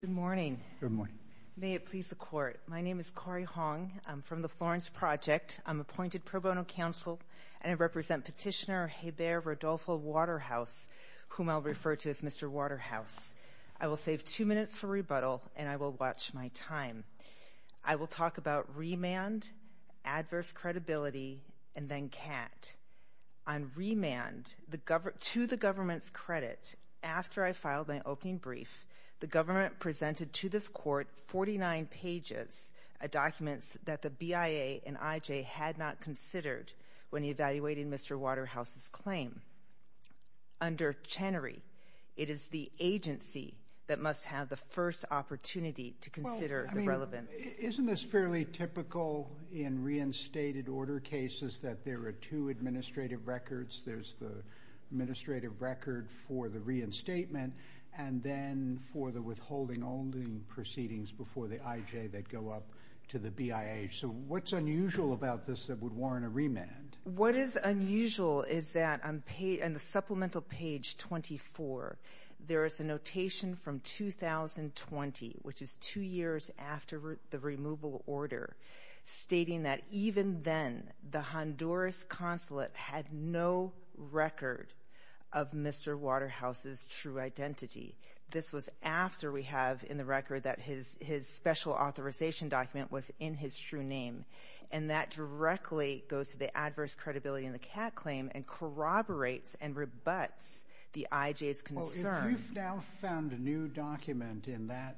Good morning. May it please the Court. My name is Cori Hong. I'm from the Florence Project. I'm appointed pro bono counsel and I represent Petitioner Hebert Rodolfo Waterhouse, whom I'll refer to as Mr. Waterhouse. I will save two minutes for rebuttal and I will watch my time. I will talk about remand, adverse credibility, and then CAT. On remand, to the government's credit, after I filed my opening brief, the government presented to this Court 49 pages of documents that the BIA and IJ had not considered when evaluating Mr. Waterhouse's claim. Under Chenery, it is the agency that must have the first opportunity to consider the relevance. Isn't this fairly typical in reinstated order cases that there are two administrative records. There's the administrative record for the reinstatement and then for the withholding proceedings before the IJ that go up to the BIA. So what's unusual about this that would warrant a remand? What is unusual is that on the supplemental page 24, there is a notation from 2020, which had no record of Mr. Waterhouse's true identity. This was after we have in the record that his special authorization document was in his true name and that directly goes to the adverse credibility in the CAT claim and corroborates and rebuts the IJ's concern. Well, if you've now found a new document in that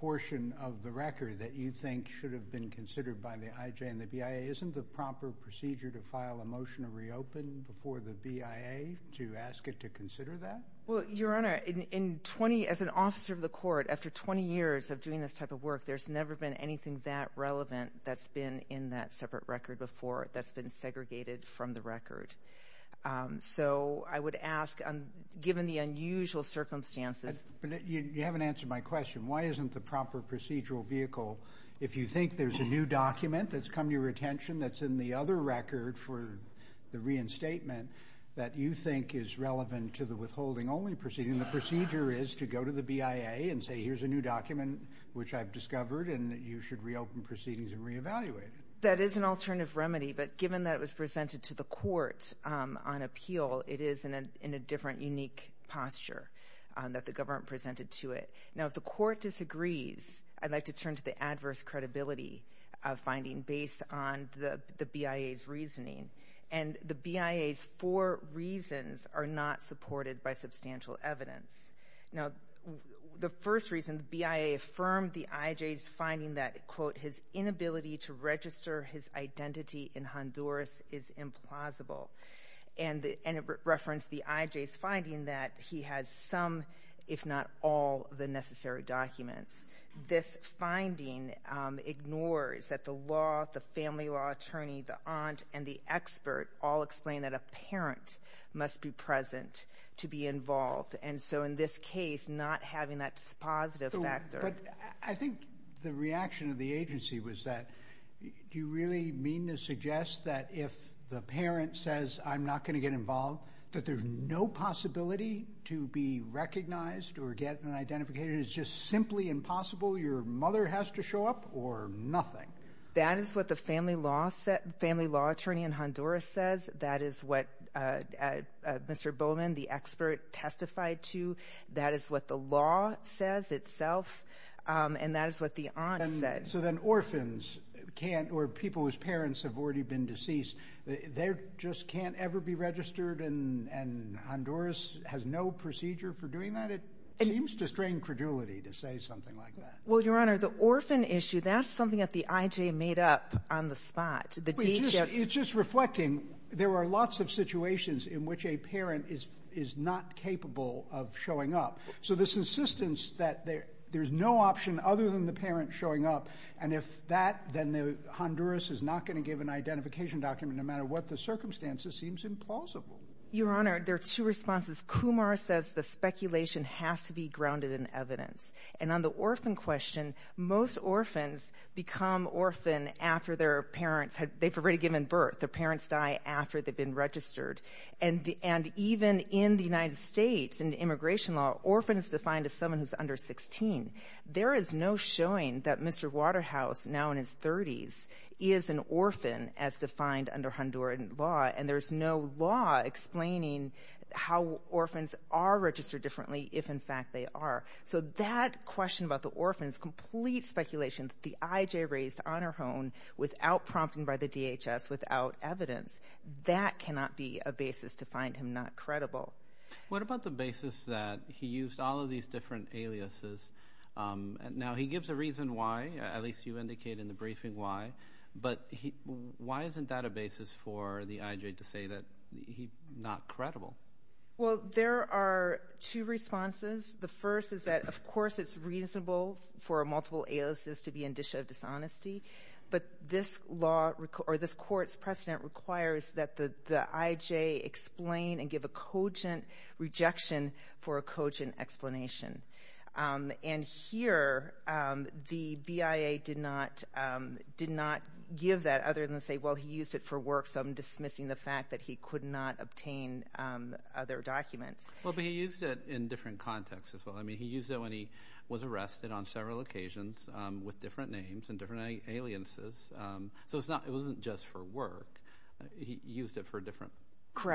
portion of the record that you think should have been considered by the IJ and the BIA, isn't the proper procedure to file a motion to reopen before the BIA to ask it to consider that? Well, Your Honor, as an officer of the court, after 20 years of doing this type of work, there's never been anything that relevant that's been in that separate record before that's been segregated from the record. So I would ask, given the unusual circumstances... You haven't answered my question. Why isn't the proper procedural vehicle, if you think there's a new document that's come to your attention that's in the other record for the reinstatement that you think is relevant to the withholding only proceeding, the procedure is to go to the BIA and say, here's a new document which I've discovered and you should reopen proceedings and reevaluate it. That is an alternative remedy, but given that it was presented to the court on appeal, it is in a different, unique posture that the government presented to it. Now, if the court disagrees, I'd like to turn to the adverse credibility finding based on the BIA's reasoning. And the BIA's four reasons are not supported by substantial evidence. Now, the first reason, the BIA affirmed the IJ's finding that, quote, his inability to register his identity in Honduras is implausible. And it referenced the IJ's finding that he has some, if not all, of the necessary documents. This finding ignores that the law, the family law attorney, the aunt, and the expert all explain that a parent must be present to be involved. And so, in this case, not having that dispositive factor. But I think the reaction of the agency was that, do you really mean to suggest that if the parent says, I'm not going to get involved, that there's no possibility to be recognized or get an identification? It's just simply impossible? Your mother has to show up or nothing? That is what the family law attorney in Honduras says. That is what Mr. Bowman, the expert, testified to. That is what the law says itself. And that is what the aunt said. So then orphans can't, or people whose parents have already been deceased, they just can't ever be registered and Honduras has no procedure for doing that? It seems to strain credulity to say something like that. Well, Your Honor, the orphan issue, that's something that the IJ made up on the spot. It's just reflecting, there are lots of situations in which a parent is not capable of showing up. So this insistence that there's no option other than the parent showing up, and if that, then Honduras is not going to give an identification document no matter what the circumstances seems implausible. Your Honor, there are two responses. Kumar says the speculation has to be grounded in evidence. And on the orphan question, most orphans become orphan after their parents, they've already given birth. Their parents die after they've been registered. And even in the United States, in immigration law, orphan is defined as someone who's under 16. There is no showing that Mr. Waterhouse, now in his 30s, is an orphan as defined under Honduran law. And there's no law explaining how orphans are registered differently if in fact they are. So that question about the orphans, complete speculation that the IJ raised on her own without prompting by the DHS, without evidence, that cannot be a basis to find him not credible. What about the basis that he used all of these different aliases? Now, he gives a reason why, at least you indicate in the briefing why. But why isn't that a basis for the IJ to say that he's not credible? Well, there are two responses. The first is that, of course, it's reasonable for a multiple aliases to be in dishonesty. But this court's precedent requires that the IJ explain and there's a cogent rejection for a cogent explanation. And here, the BIA did not give that other than to say, well, he used it for work, so I'm dismissing the fact that he could not obtain other documents. Well, but he used it in different contexts as well. I mean, he used it when he was arrested on several occasions with different names and different aliases. So it wasn't just for work. He used it for a different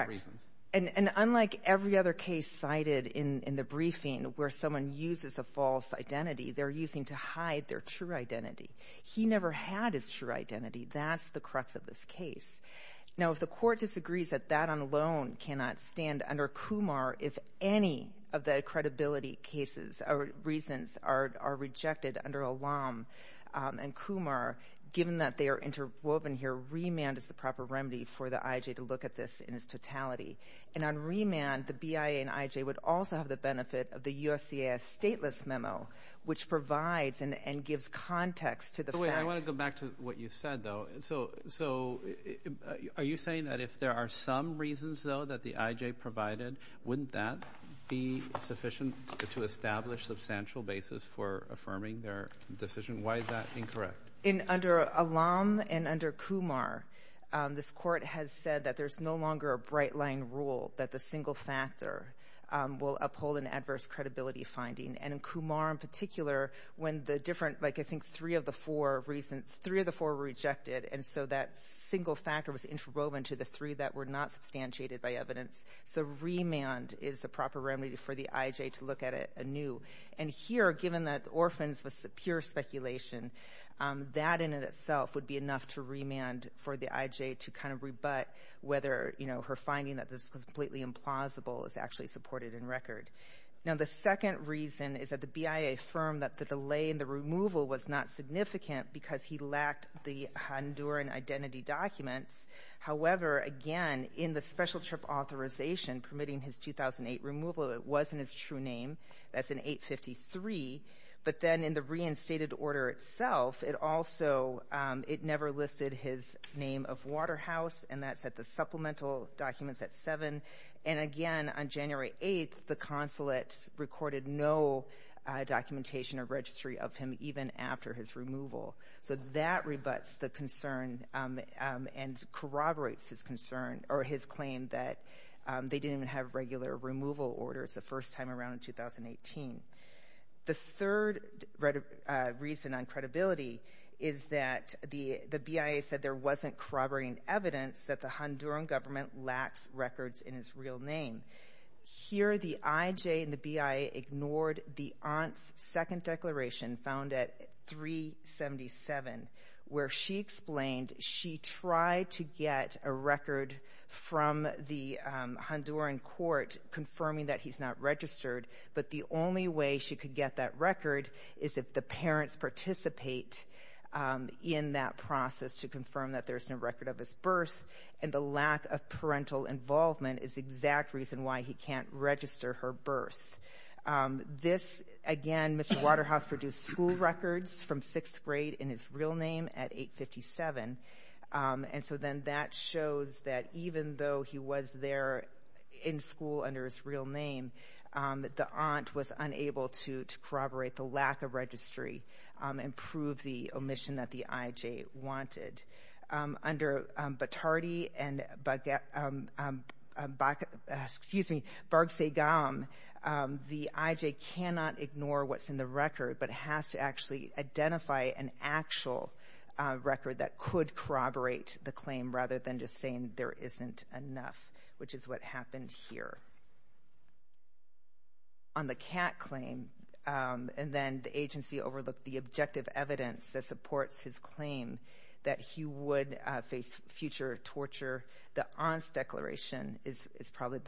reason. And unlike every other case cited in the briefing where someone uses a false identity, they're using to hide their true identity. He never had his true identity. That's the crux of this case. Now, if the court disagrees that that alone cannot stand under Kumar, if any of the credibility cases or reasons are rejected under Alam and Kumar, given that they are interwoven here, remand is the proper remedy for the IJ to look at this in its totality. And on remand, the BIA and IJ would also have the benefit of the USCIS stateless memo, which provides and gives context to the fact— So wait, I want to go back to what you said, though. So are you saying that if there are some reasons, though, that the IJ provided, wouldn't that be sufficient to establish substantial basis for affirming their decision? Why is that incorrect? Under Alam and under Kumar, this court has said that there's no longer a bright-line rule that the single factor will uphold an adverse credibility finding. And in Kumar in particular, when the different—I think three of the four reasons—three of the four were rejected, and so that single factor was interwoven to the three that were not substantiated by evidence. So remand is the proper remedy for the IJ to look at it anew. And here, given that orphans was pure speculation, that in itself would be enough to remand for the IJ to kind of rebut whether, you know, her finding that this was completely implausible is actually supported in record. Now, the second reason is that the BIA affirmed that the delay in the removal was not significant because he lacked the Honduran identity documents. However, again, in the special trip authorization permitting his 2008 removal, it wasn't his true name. That's in 853. But then in the reinstated order itself, it also—it never listed his name of Waterhouse, and that's at the supplemental documents at 7. And again, on January 8th, the consulate recorded no documentation or registry of him even after his removal. So that rebuts the concern and corroborates his concern or his claim that they didn't even have regular removal orders the first time around in 2018. The third reason on credibility is that the BIA said there wasn't corroborating evidence that the Honduran government lacks records in his real name. Here, the IJ and the BIA ignored the aunt's second declaration found at 377, where she explained she tried to get a record from the Honduran court confirming that he's not registered, but the only way she could get that record is if the parents participate in that process to confirm that there's no record of his birth, and the lack of parental involvement is the exact reason why he can't register her birth. This, again, Mr. Waterhouse produced school records from sixth grade in his real name at 857, and so then that shows that even though he was there in school under his real name, the aunt was unable to corroborate the lack of registry and prove the omission that the IJ wanted. Under Batardi and Bargsegam, the IJ cannot ignore what's in the record, but has to actually identify an actual record that could corroborate the claim rather than just saying there isn't enough, which is what happened here. On the Kat claim, and then the agency overlooked the objective evidence that supports his claim that he would face future torture, the aunt's declaration is probably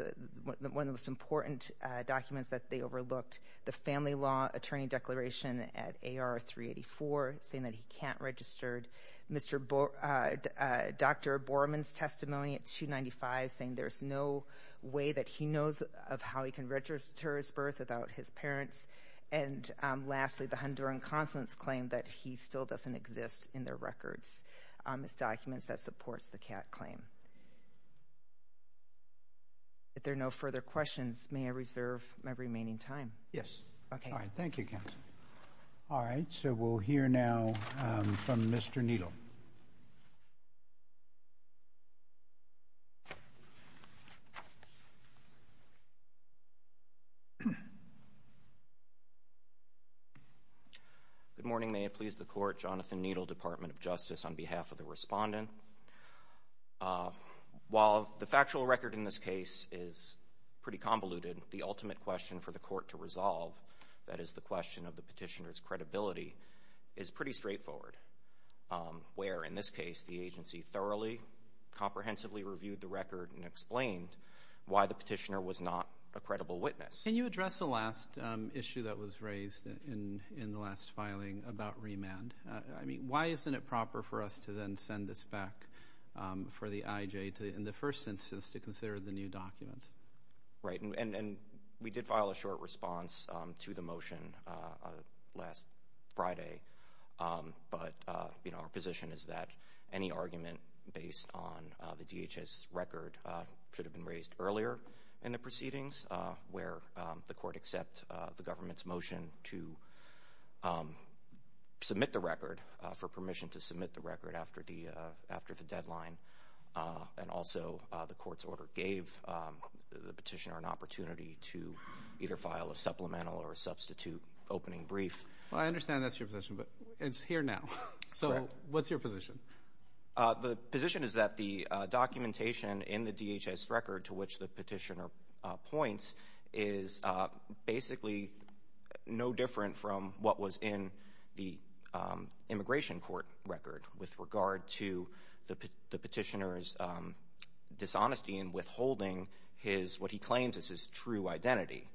one of the most important documents that they overlooked, the family law attorney declaration at AR 384 saying that he can't register, Dr. Borman's testimony at 295 saying there's no way that he knows of how he can register his birth without his parents, and lastly, the Honduran consulate's claim that he still doesn't exist in their records. It's documents that supports the Kat claim. If there are no further questions, may I reserve my remaining time? Yes. Okay. All right, thank you, counsel. All right, so we'll hear now from Mr. Needle. Good morning. May it please the Court, Jonathan Needle, Department of Justice, on behalf of the Respondent. While the factual record in this case is pretty convoluted, the ultimate question for the Court to resolve, that is the question of the petitioner's credibility, is pretty straightforward, where, in this case, the agency thoroughly, comprehensively reviewed the record and explained why the petitioner was not a credible witness. Can you address the last issue that was raised in the last filing about remand? I mean, why isn't it proper for us to then send this back for the IJ, in the first instance, to consider the new document? Right, and we did file a short response to the motion last Friday, but our position is that any argument based on the DHS record should have been raised earlier in the proceedings, where the Court accept the government's motion to submit the record, for permission to submit the record after the deadline, and also the Court's order gave the petitioner an opportunity to either file a supplemental or a substitute opening brief. Well, I understand that's your position, but it's here now, so what's your position? The position is that the documentation in the DHS record to which the petitioner points is basically no different from what was in the Immigration Court record with regard to the petitioner's dishonesty in withholding his, what he claims is his true identity,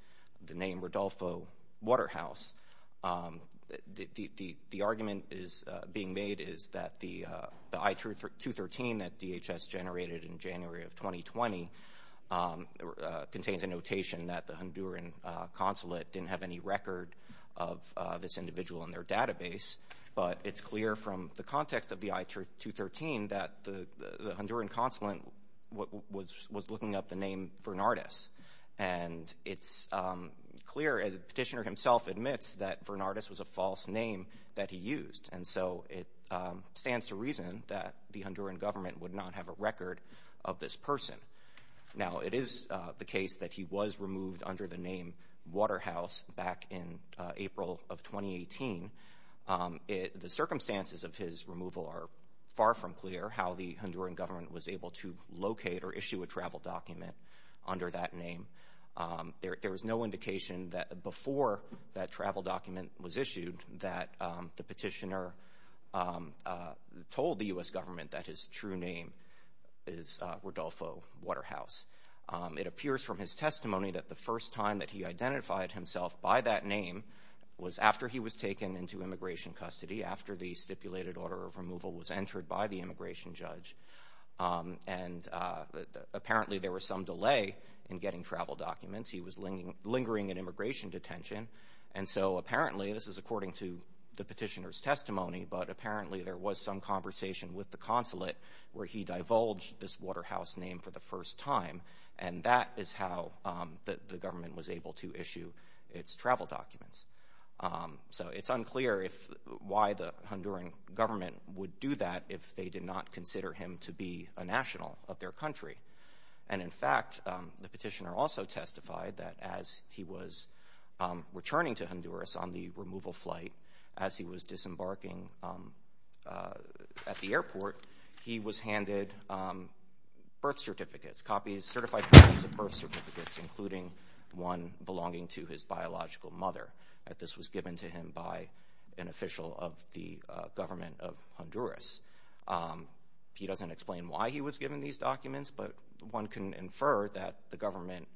the name Rodolfo Waterhouse. The argument being made is that the I-213 that DHS generated in January of 2020 contains a notation that the Honduran consulate didn't have any record of this individual in their database, but it's clear from the context of the I-213 that the Honduran consulate was looking up the name Vernardes, and it's clear, the petitioner himself admits that Vernardes was a false name that he used, and so it stands to reason that the Honduran government would not have a record of this person. Now, it is the case that he was removed under the name Waterhouse back in April of 2018. The circumstances of his removal are far from clear, how the Honduran government was able to locate or issue a travel document under that name. There was no indication that before that travel document was issued that the petitioner told the U.S. government that his true name is Rodolfo Waterhouse. It appears from his testimony that the first time that he identified himself by that name was after he was taken into immigration custody, after the stipulated order of removal was passed, and apparently there was some delay in getting travel documents. He was lingering in immigration detention, and so apparently, this is according to the petitioner's testimony, but apparently there was some conversation with the consulate where he divulged this Waterhouse name for the first time, and that is how the government was able to issue its travel documents. So it's unclear why the Honduran government would do that if they did not consider him to be a national of their country, and in fact, the petitioner also testified that as he was returning to Honduras on the removal flight, as he was disembarking at the airport, he was handed birth certificates, copies, certified copies of birth certificates, including one belonging to his biological mother. This was given to him by an official of the government of Honduras. He doesn't explain why he was given these documents, but one can infer that the government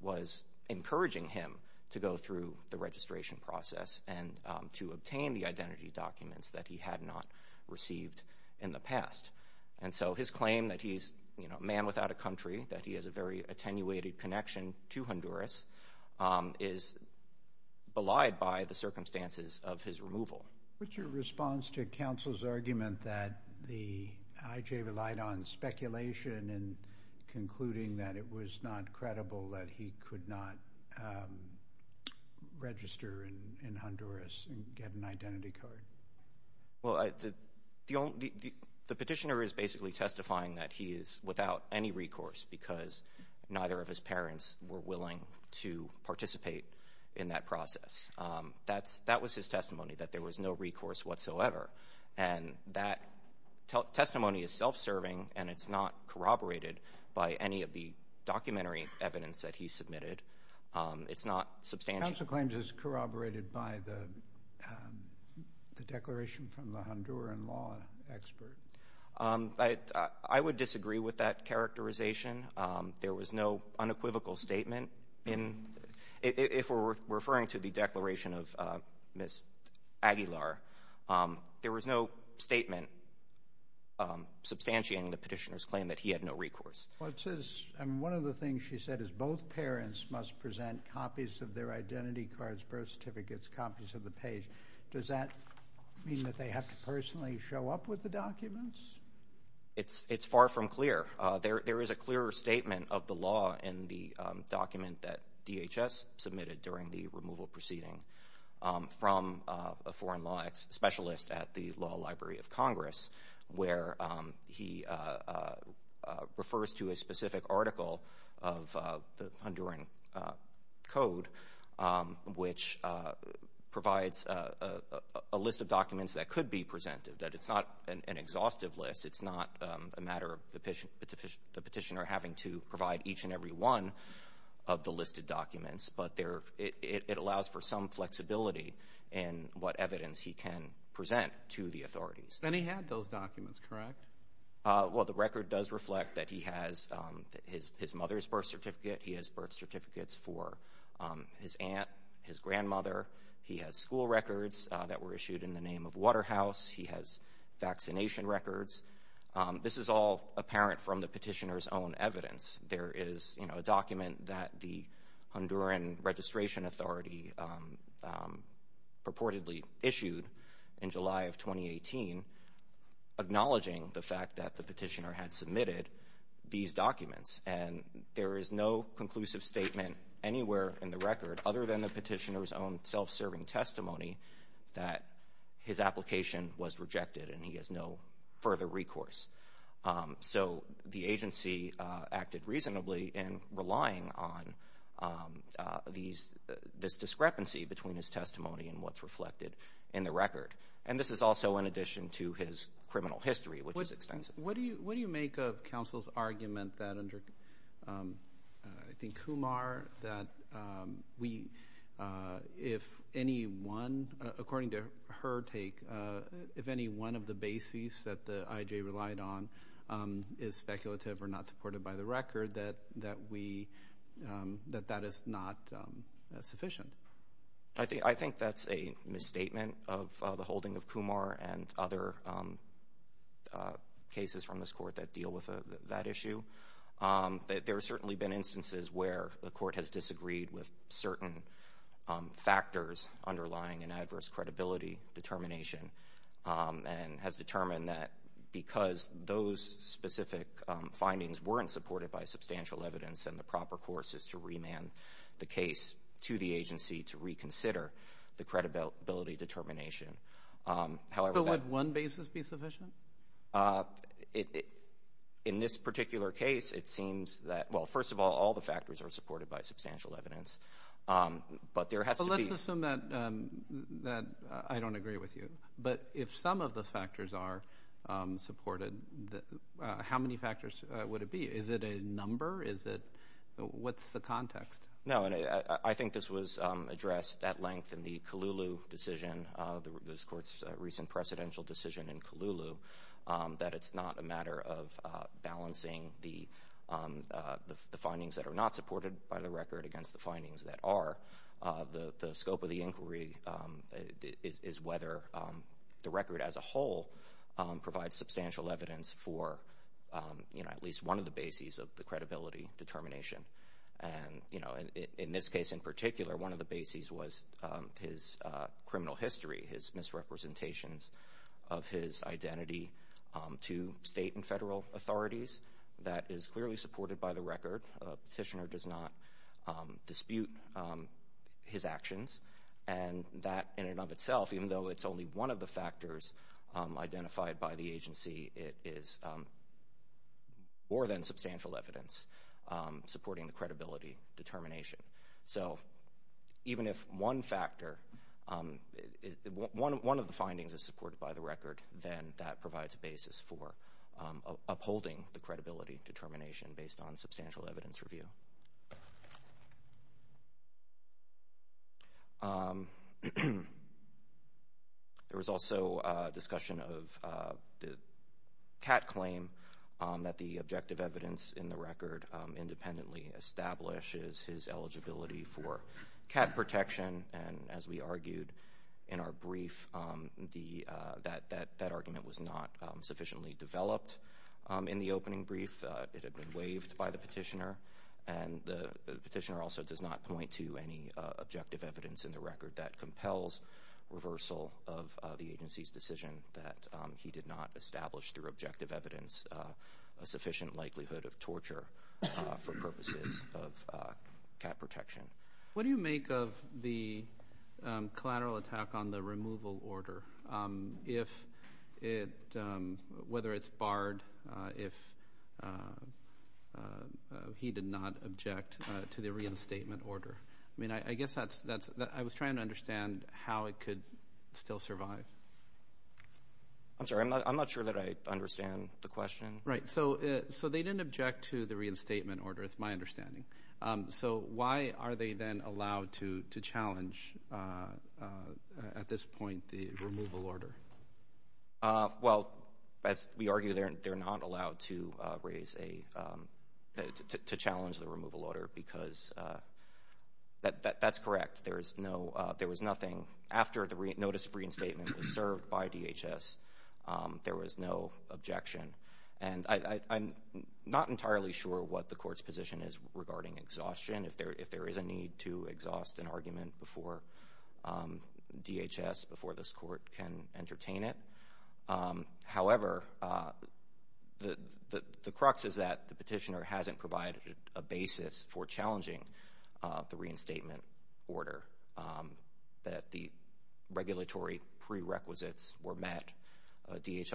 was encouraging him to go through the registration process and to obtain the identity documents that he had not received in the past, and so his claim that he's a man without a country, that he has a very attenuated connection to Honduras, is belied by the circumstances of his removal. What's your response to counsel's argument that the IJ relied on speculation and concluding that it was not credible that he could not register in Honduras and get an identity card? Well, the petitioner is basically testifying that he is without any recourse because neither of his parents were willing to participate in that process. That was his testimony, that there was no recourse whatsoever. And that testimony is self-serving, and it's not corroborated by any of the documentary evidence that he submitted. It's not substantial. Counsel claims it's corroborated by the declaration from the Honduran law expert. I would disagree with that characterization. There was no unequivocal statement. If we're referring to the declaration of Ms. Aguilar, there was no statement substantiating the petitioner's claim that he had no recourse. One of the things she said is both parents must present copies of their identity cards, birth certificates, copies of the page. Does that mean that they have to personally show up with the documents? It's far from clear. There is a clearer statement of the law in the document that DHS submitted during the removal proceeding from a foreign law specialist at the Law Library of Congress, where he refers to a specific article of the Honduran code, which provides a list of documents that could be presented, that it's not an exhaustive list. It's not a matter of the petitioner having to provide each and every one of the listed documents, but it allows for some flexibility in what evidence he can present to the authorities. And he had those documents, correct? Well, the record does reflect that he has his mother's birth certificate. He has birth certificates for his aunt, his grandmother. He has school records that were issued in the name of Waterhouse. He has vaccination records. This is all apparent from the petitioner's own evidence. There is a document that the Honduran Registration Authority purportedly issued in July of 2018 acknowledging the fact that the petitioner had submitted these documents. And there is no conclusive statement anywhere in the record, other than the petitioner's own self-serving testimony, that his application was rejected and he has no further recourse. So, the agency acted reasonably in relying on this discrepancy between his testimony and what's reflected in the record. And this is also in addition to his criminal history, which is extensive. What do you make of counsel's argument that under, I think, Kumar, that we, if any one, according to her take, if any one of the bases that the IJ relied on is speculative or not supported by the record, that that is not sufficient? I think that's a misstatement of the holding of Kumar and other cases from this court that deal with that issue. There have certainly been instances where the court has disagreed with certain factors underlying an adverse credibility determination and has determined that because those specific findings weren't supported by substantial evidence, then the proper course is to remand the case to the agency to reconsider the credibility determination. But would one basis be sufficient? In this particular case, it seems that, well, first of all, all the factors are supported by substantial evidence. But there has to be – But let's assume that I don't agree with you. But if some of the factors are supported, how many factors would it be? Is it a number? Is it – what's the context? No, and I think this was addressed at length in the Colulu decision, this court's recent precedential decision in Colulu, that it's not a matter of balancing the findings that are not supported by the record against the findings that are. The scope of the inquiry is whether the record as a whole provides substantial evidence for at least one of the bases of the credibility determination. And in this case in particular, one of the bases was his criminal history, his misrepresentations of his identity to state and federal authorities. That is clearly supported by the record. A petitioner does not dispute his actions. And that in and of itself, even though it's only one of the factors identified by the agency, is more than substantial evidence supporting the credibility determination. So even if one factor – one of the findings is supported by the record, then that provides a basis for upholding the credibility determination based on substantial evidence review. There was also a discussion of the CAT claim, that the objective evidence in the record independently establishes his eligibility for CAT protection. And as we argued in our brief, that argument was not sufficiently developed in the opening brief. It had been waived by the petitioner. And the petitioner also does not point to any objective evidence in the record that compels reversal of the agency's decision that he did not establish, through objective evidence, a sufficient likelihood of torture for purposes of CAT protection. What do you make of the collateral attack on the removal order? If it – whether it's barred if he did not object to the reinstatement order? I mean, I guess that's – I was trying to understand how it could still survive. I'm sorry. I'm not sure that I understand the question. Right. So they didn't object to the reinstatement order. It's my understanding. So why are they then allowed to challenge, at this point, the removal order? Well, as we argue, they're not allowed to raise a – to challenge the removal order, because that's correct. There is no – there was nothing – after the notice of reinstatement was served by DHS, there was no objection. And I'm not entirely sure what the court's position is regarding exhaustion, if there is a need to exhaust an argument before DHS, before this court can entertain it. However, the crux is that the petitioner hasn't provided a basis for challenging the reinstatement order, that the regulatory prerequisites were met. DHS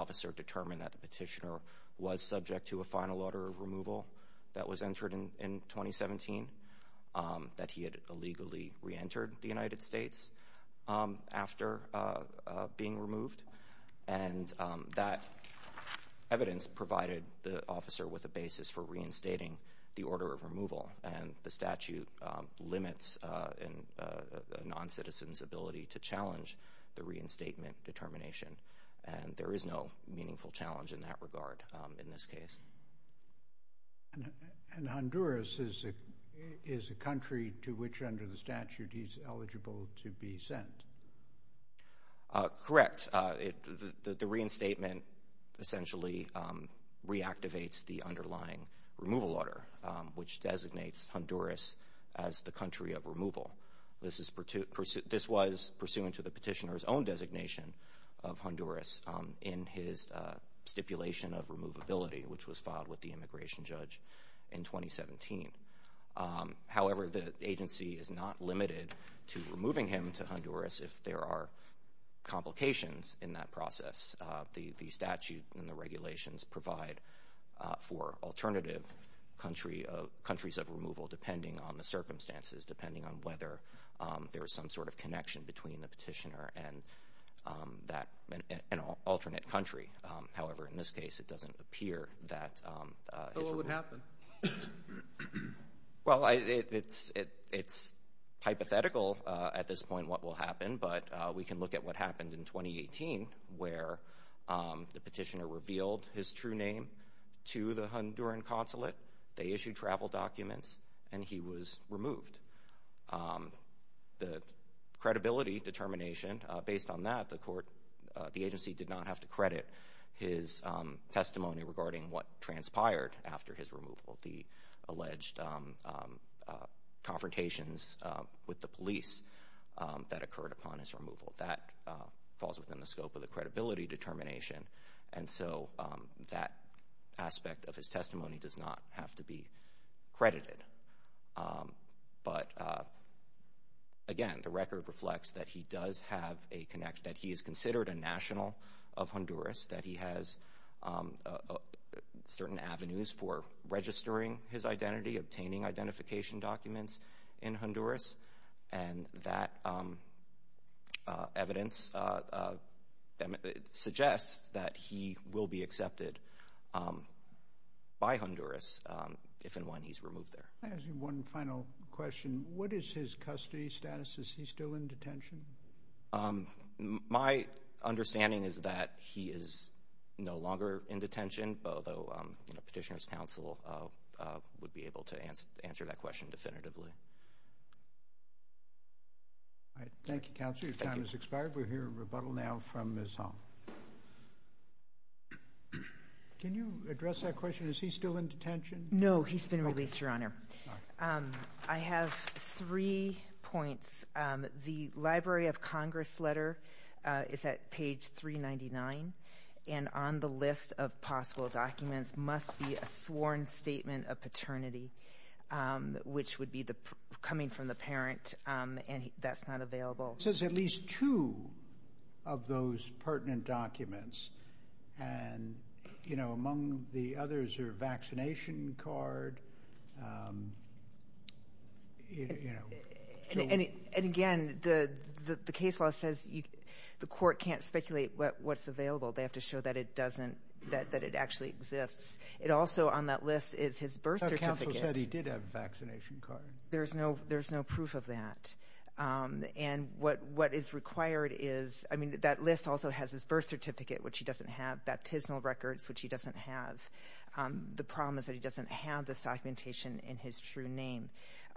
officer determined that the petitioner was subject to a final order of removal that was entered in 2017, that he had illegally reentered the United States after being removed. And that evidence provided the officer with a basis for reinstating the order of removal. And the statute limits a noncitizen's ability to challenge the reinstatement determination. And there is no meaningful challenge in that regard in this case. And Honduras is a country to which, under the statute, he's eligible to be sent. Correct. The reinstatement essentially reactivates the underlying removal order, which designates Honduras as the country of removal. This was pursuant to the petitioner's own designation of Honduras in his stipulation of removability, which was filed with the immigration judge in 2017. However, the agency is not limited to removing him to Honduras if there are complications in that process. The statute and the regulations provide for alternative countries of removal, depending on the circumstances, depending on whether there is some sort of connection between the petitioner and an alternate country. However, in this case, it doesn't appear that... So what would happen? Well, it's hypothetical at this point what will happen, but we can look at what happened in 2018, where the petitioner revealed his true name to the Honduran consulate, they issued travel documents, and he was removed. The credibility determination, based on that, the agency did not have to credit his testimony regarding what transpired after his removal, the alleged confrontations with the police that occurred upon his removal. That falls within the scope of the credibility determination, and so that aspect of his testimony does not have to be credited. But, again, the record reflects that he does have a connection, that he is considered a national of Honduras, that he has certain avenues for registering his identity, obtaining identification documents in Honduras, and that evidence suggests that he will be accepted by Honduras if and when he's removed there. I have one final question. What is his custody status? Is he still in detention? My understanding is that he is no longer in detention, although Petitioner's Council would be able to answer that question definitively. Thank you, Counselor. Your time has expired. We're hearing rebuttal now from Ms. Hong. Can you address that question? Is he still in detention? No, he's been released, Your Honor. I have three points. The Library of Congress letter is at page 399, and on the list of possible documents must be a sworn statement of paternity, which would be coming from the parent, and that's not available. It says at least two of those pertinent documents, and, you know, among the others are a vaccination card. And, again, the case law says the court can't speculate what's available. They have to show that it doesn't, that it actually exists. It also, on that list, is his birth certificate. Counsel said he did have a vaccination card. There's no proof of that, and what is required is, I mean, that list also has his birth certificate, which he doesn't have, baptismal records, which he doesn't have. The problem is that he doesn't have this documentation in his true name.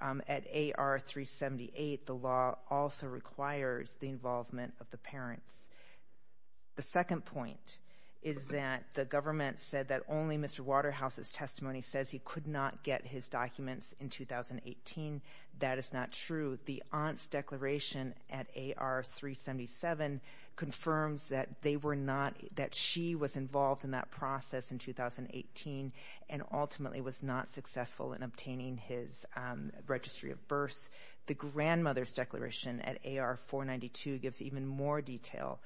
At AR 378, the law also requires the involvement of the parents. The second point is that the government said that only Mr. Waterhouse's testimony says he could not get his documents in 2018. That is not true. The aunt's declaration at AR 377 confirms that they were not, that she was involved in that process in 2018 and ultimately was not successful in obtaining his registry of birth. The grandmother's declaration at AR 492 gives even more detail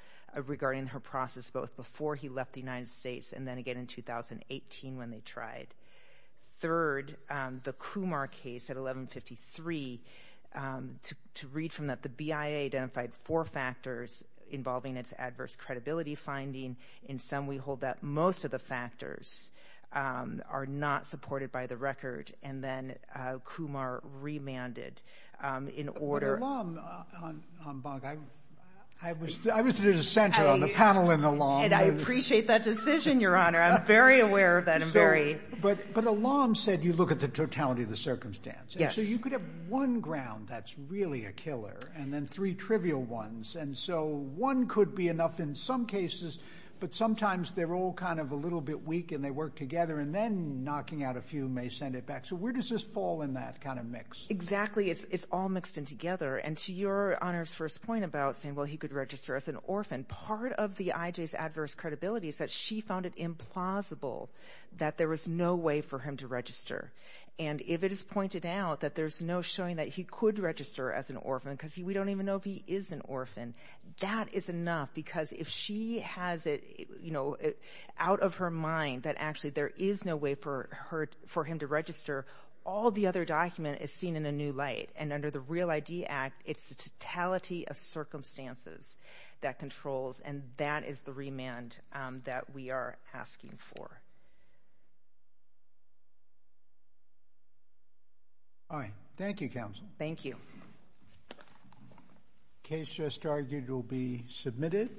regarding her process both before he left the United States and then again in 2018 when they tried. Third, the Kumar case at 1153, to read from that, the BIA identified four factors involving its adverse credibility finding. In some we hold that most of the factors are not supported by the record, and then Kumar remanded in order. But Alam, I was at the center on the panel and Alam. And I appreciate that decision, Your Honor. I'm very aware of that. But Alam said you look at the totality of the circumstance. Yes. So you could have one ground that's really a killer and then three trivial ones. And so one could be enough in some cases, but sometimes they're all kind of a little bit weak and they work together, and then knocking out a few may send it back. So where does this fall in that kind of mix? Exactly. It's all mixed in together. And to Your Honor's first point about saying, well, he could register as an orphan, part of the IJ's adverse credibility is that she found it implausible that there was no way for him to register. And if it is pointed out that there's no showing that he could register as an orphan because we don't even know if he is an orphan, that is enough because if she has it out of her mind that actually there is no way for him to register, all the other document is seen in a new light. And under the REAL ID Act, it's the totality of circumstances that controls, and that is the remand that we are asking for. All right. Thank you, Counsel. Thank you. The case just argued will be submitted.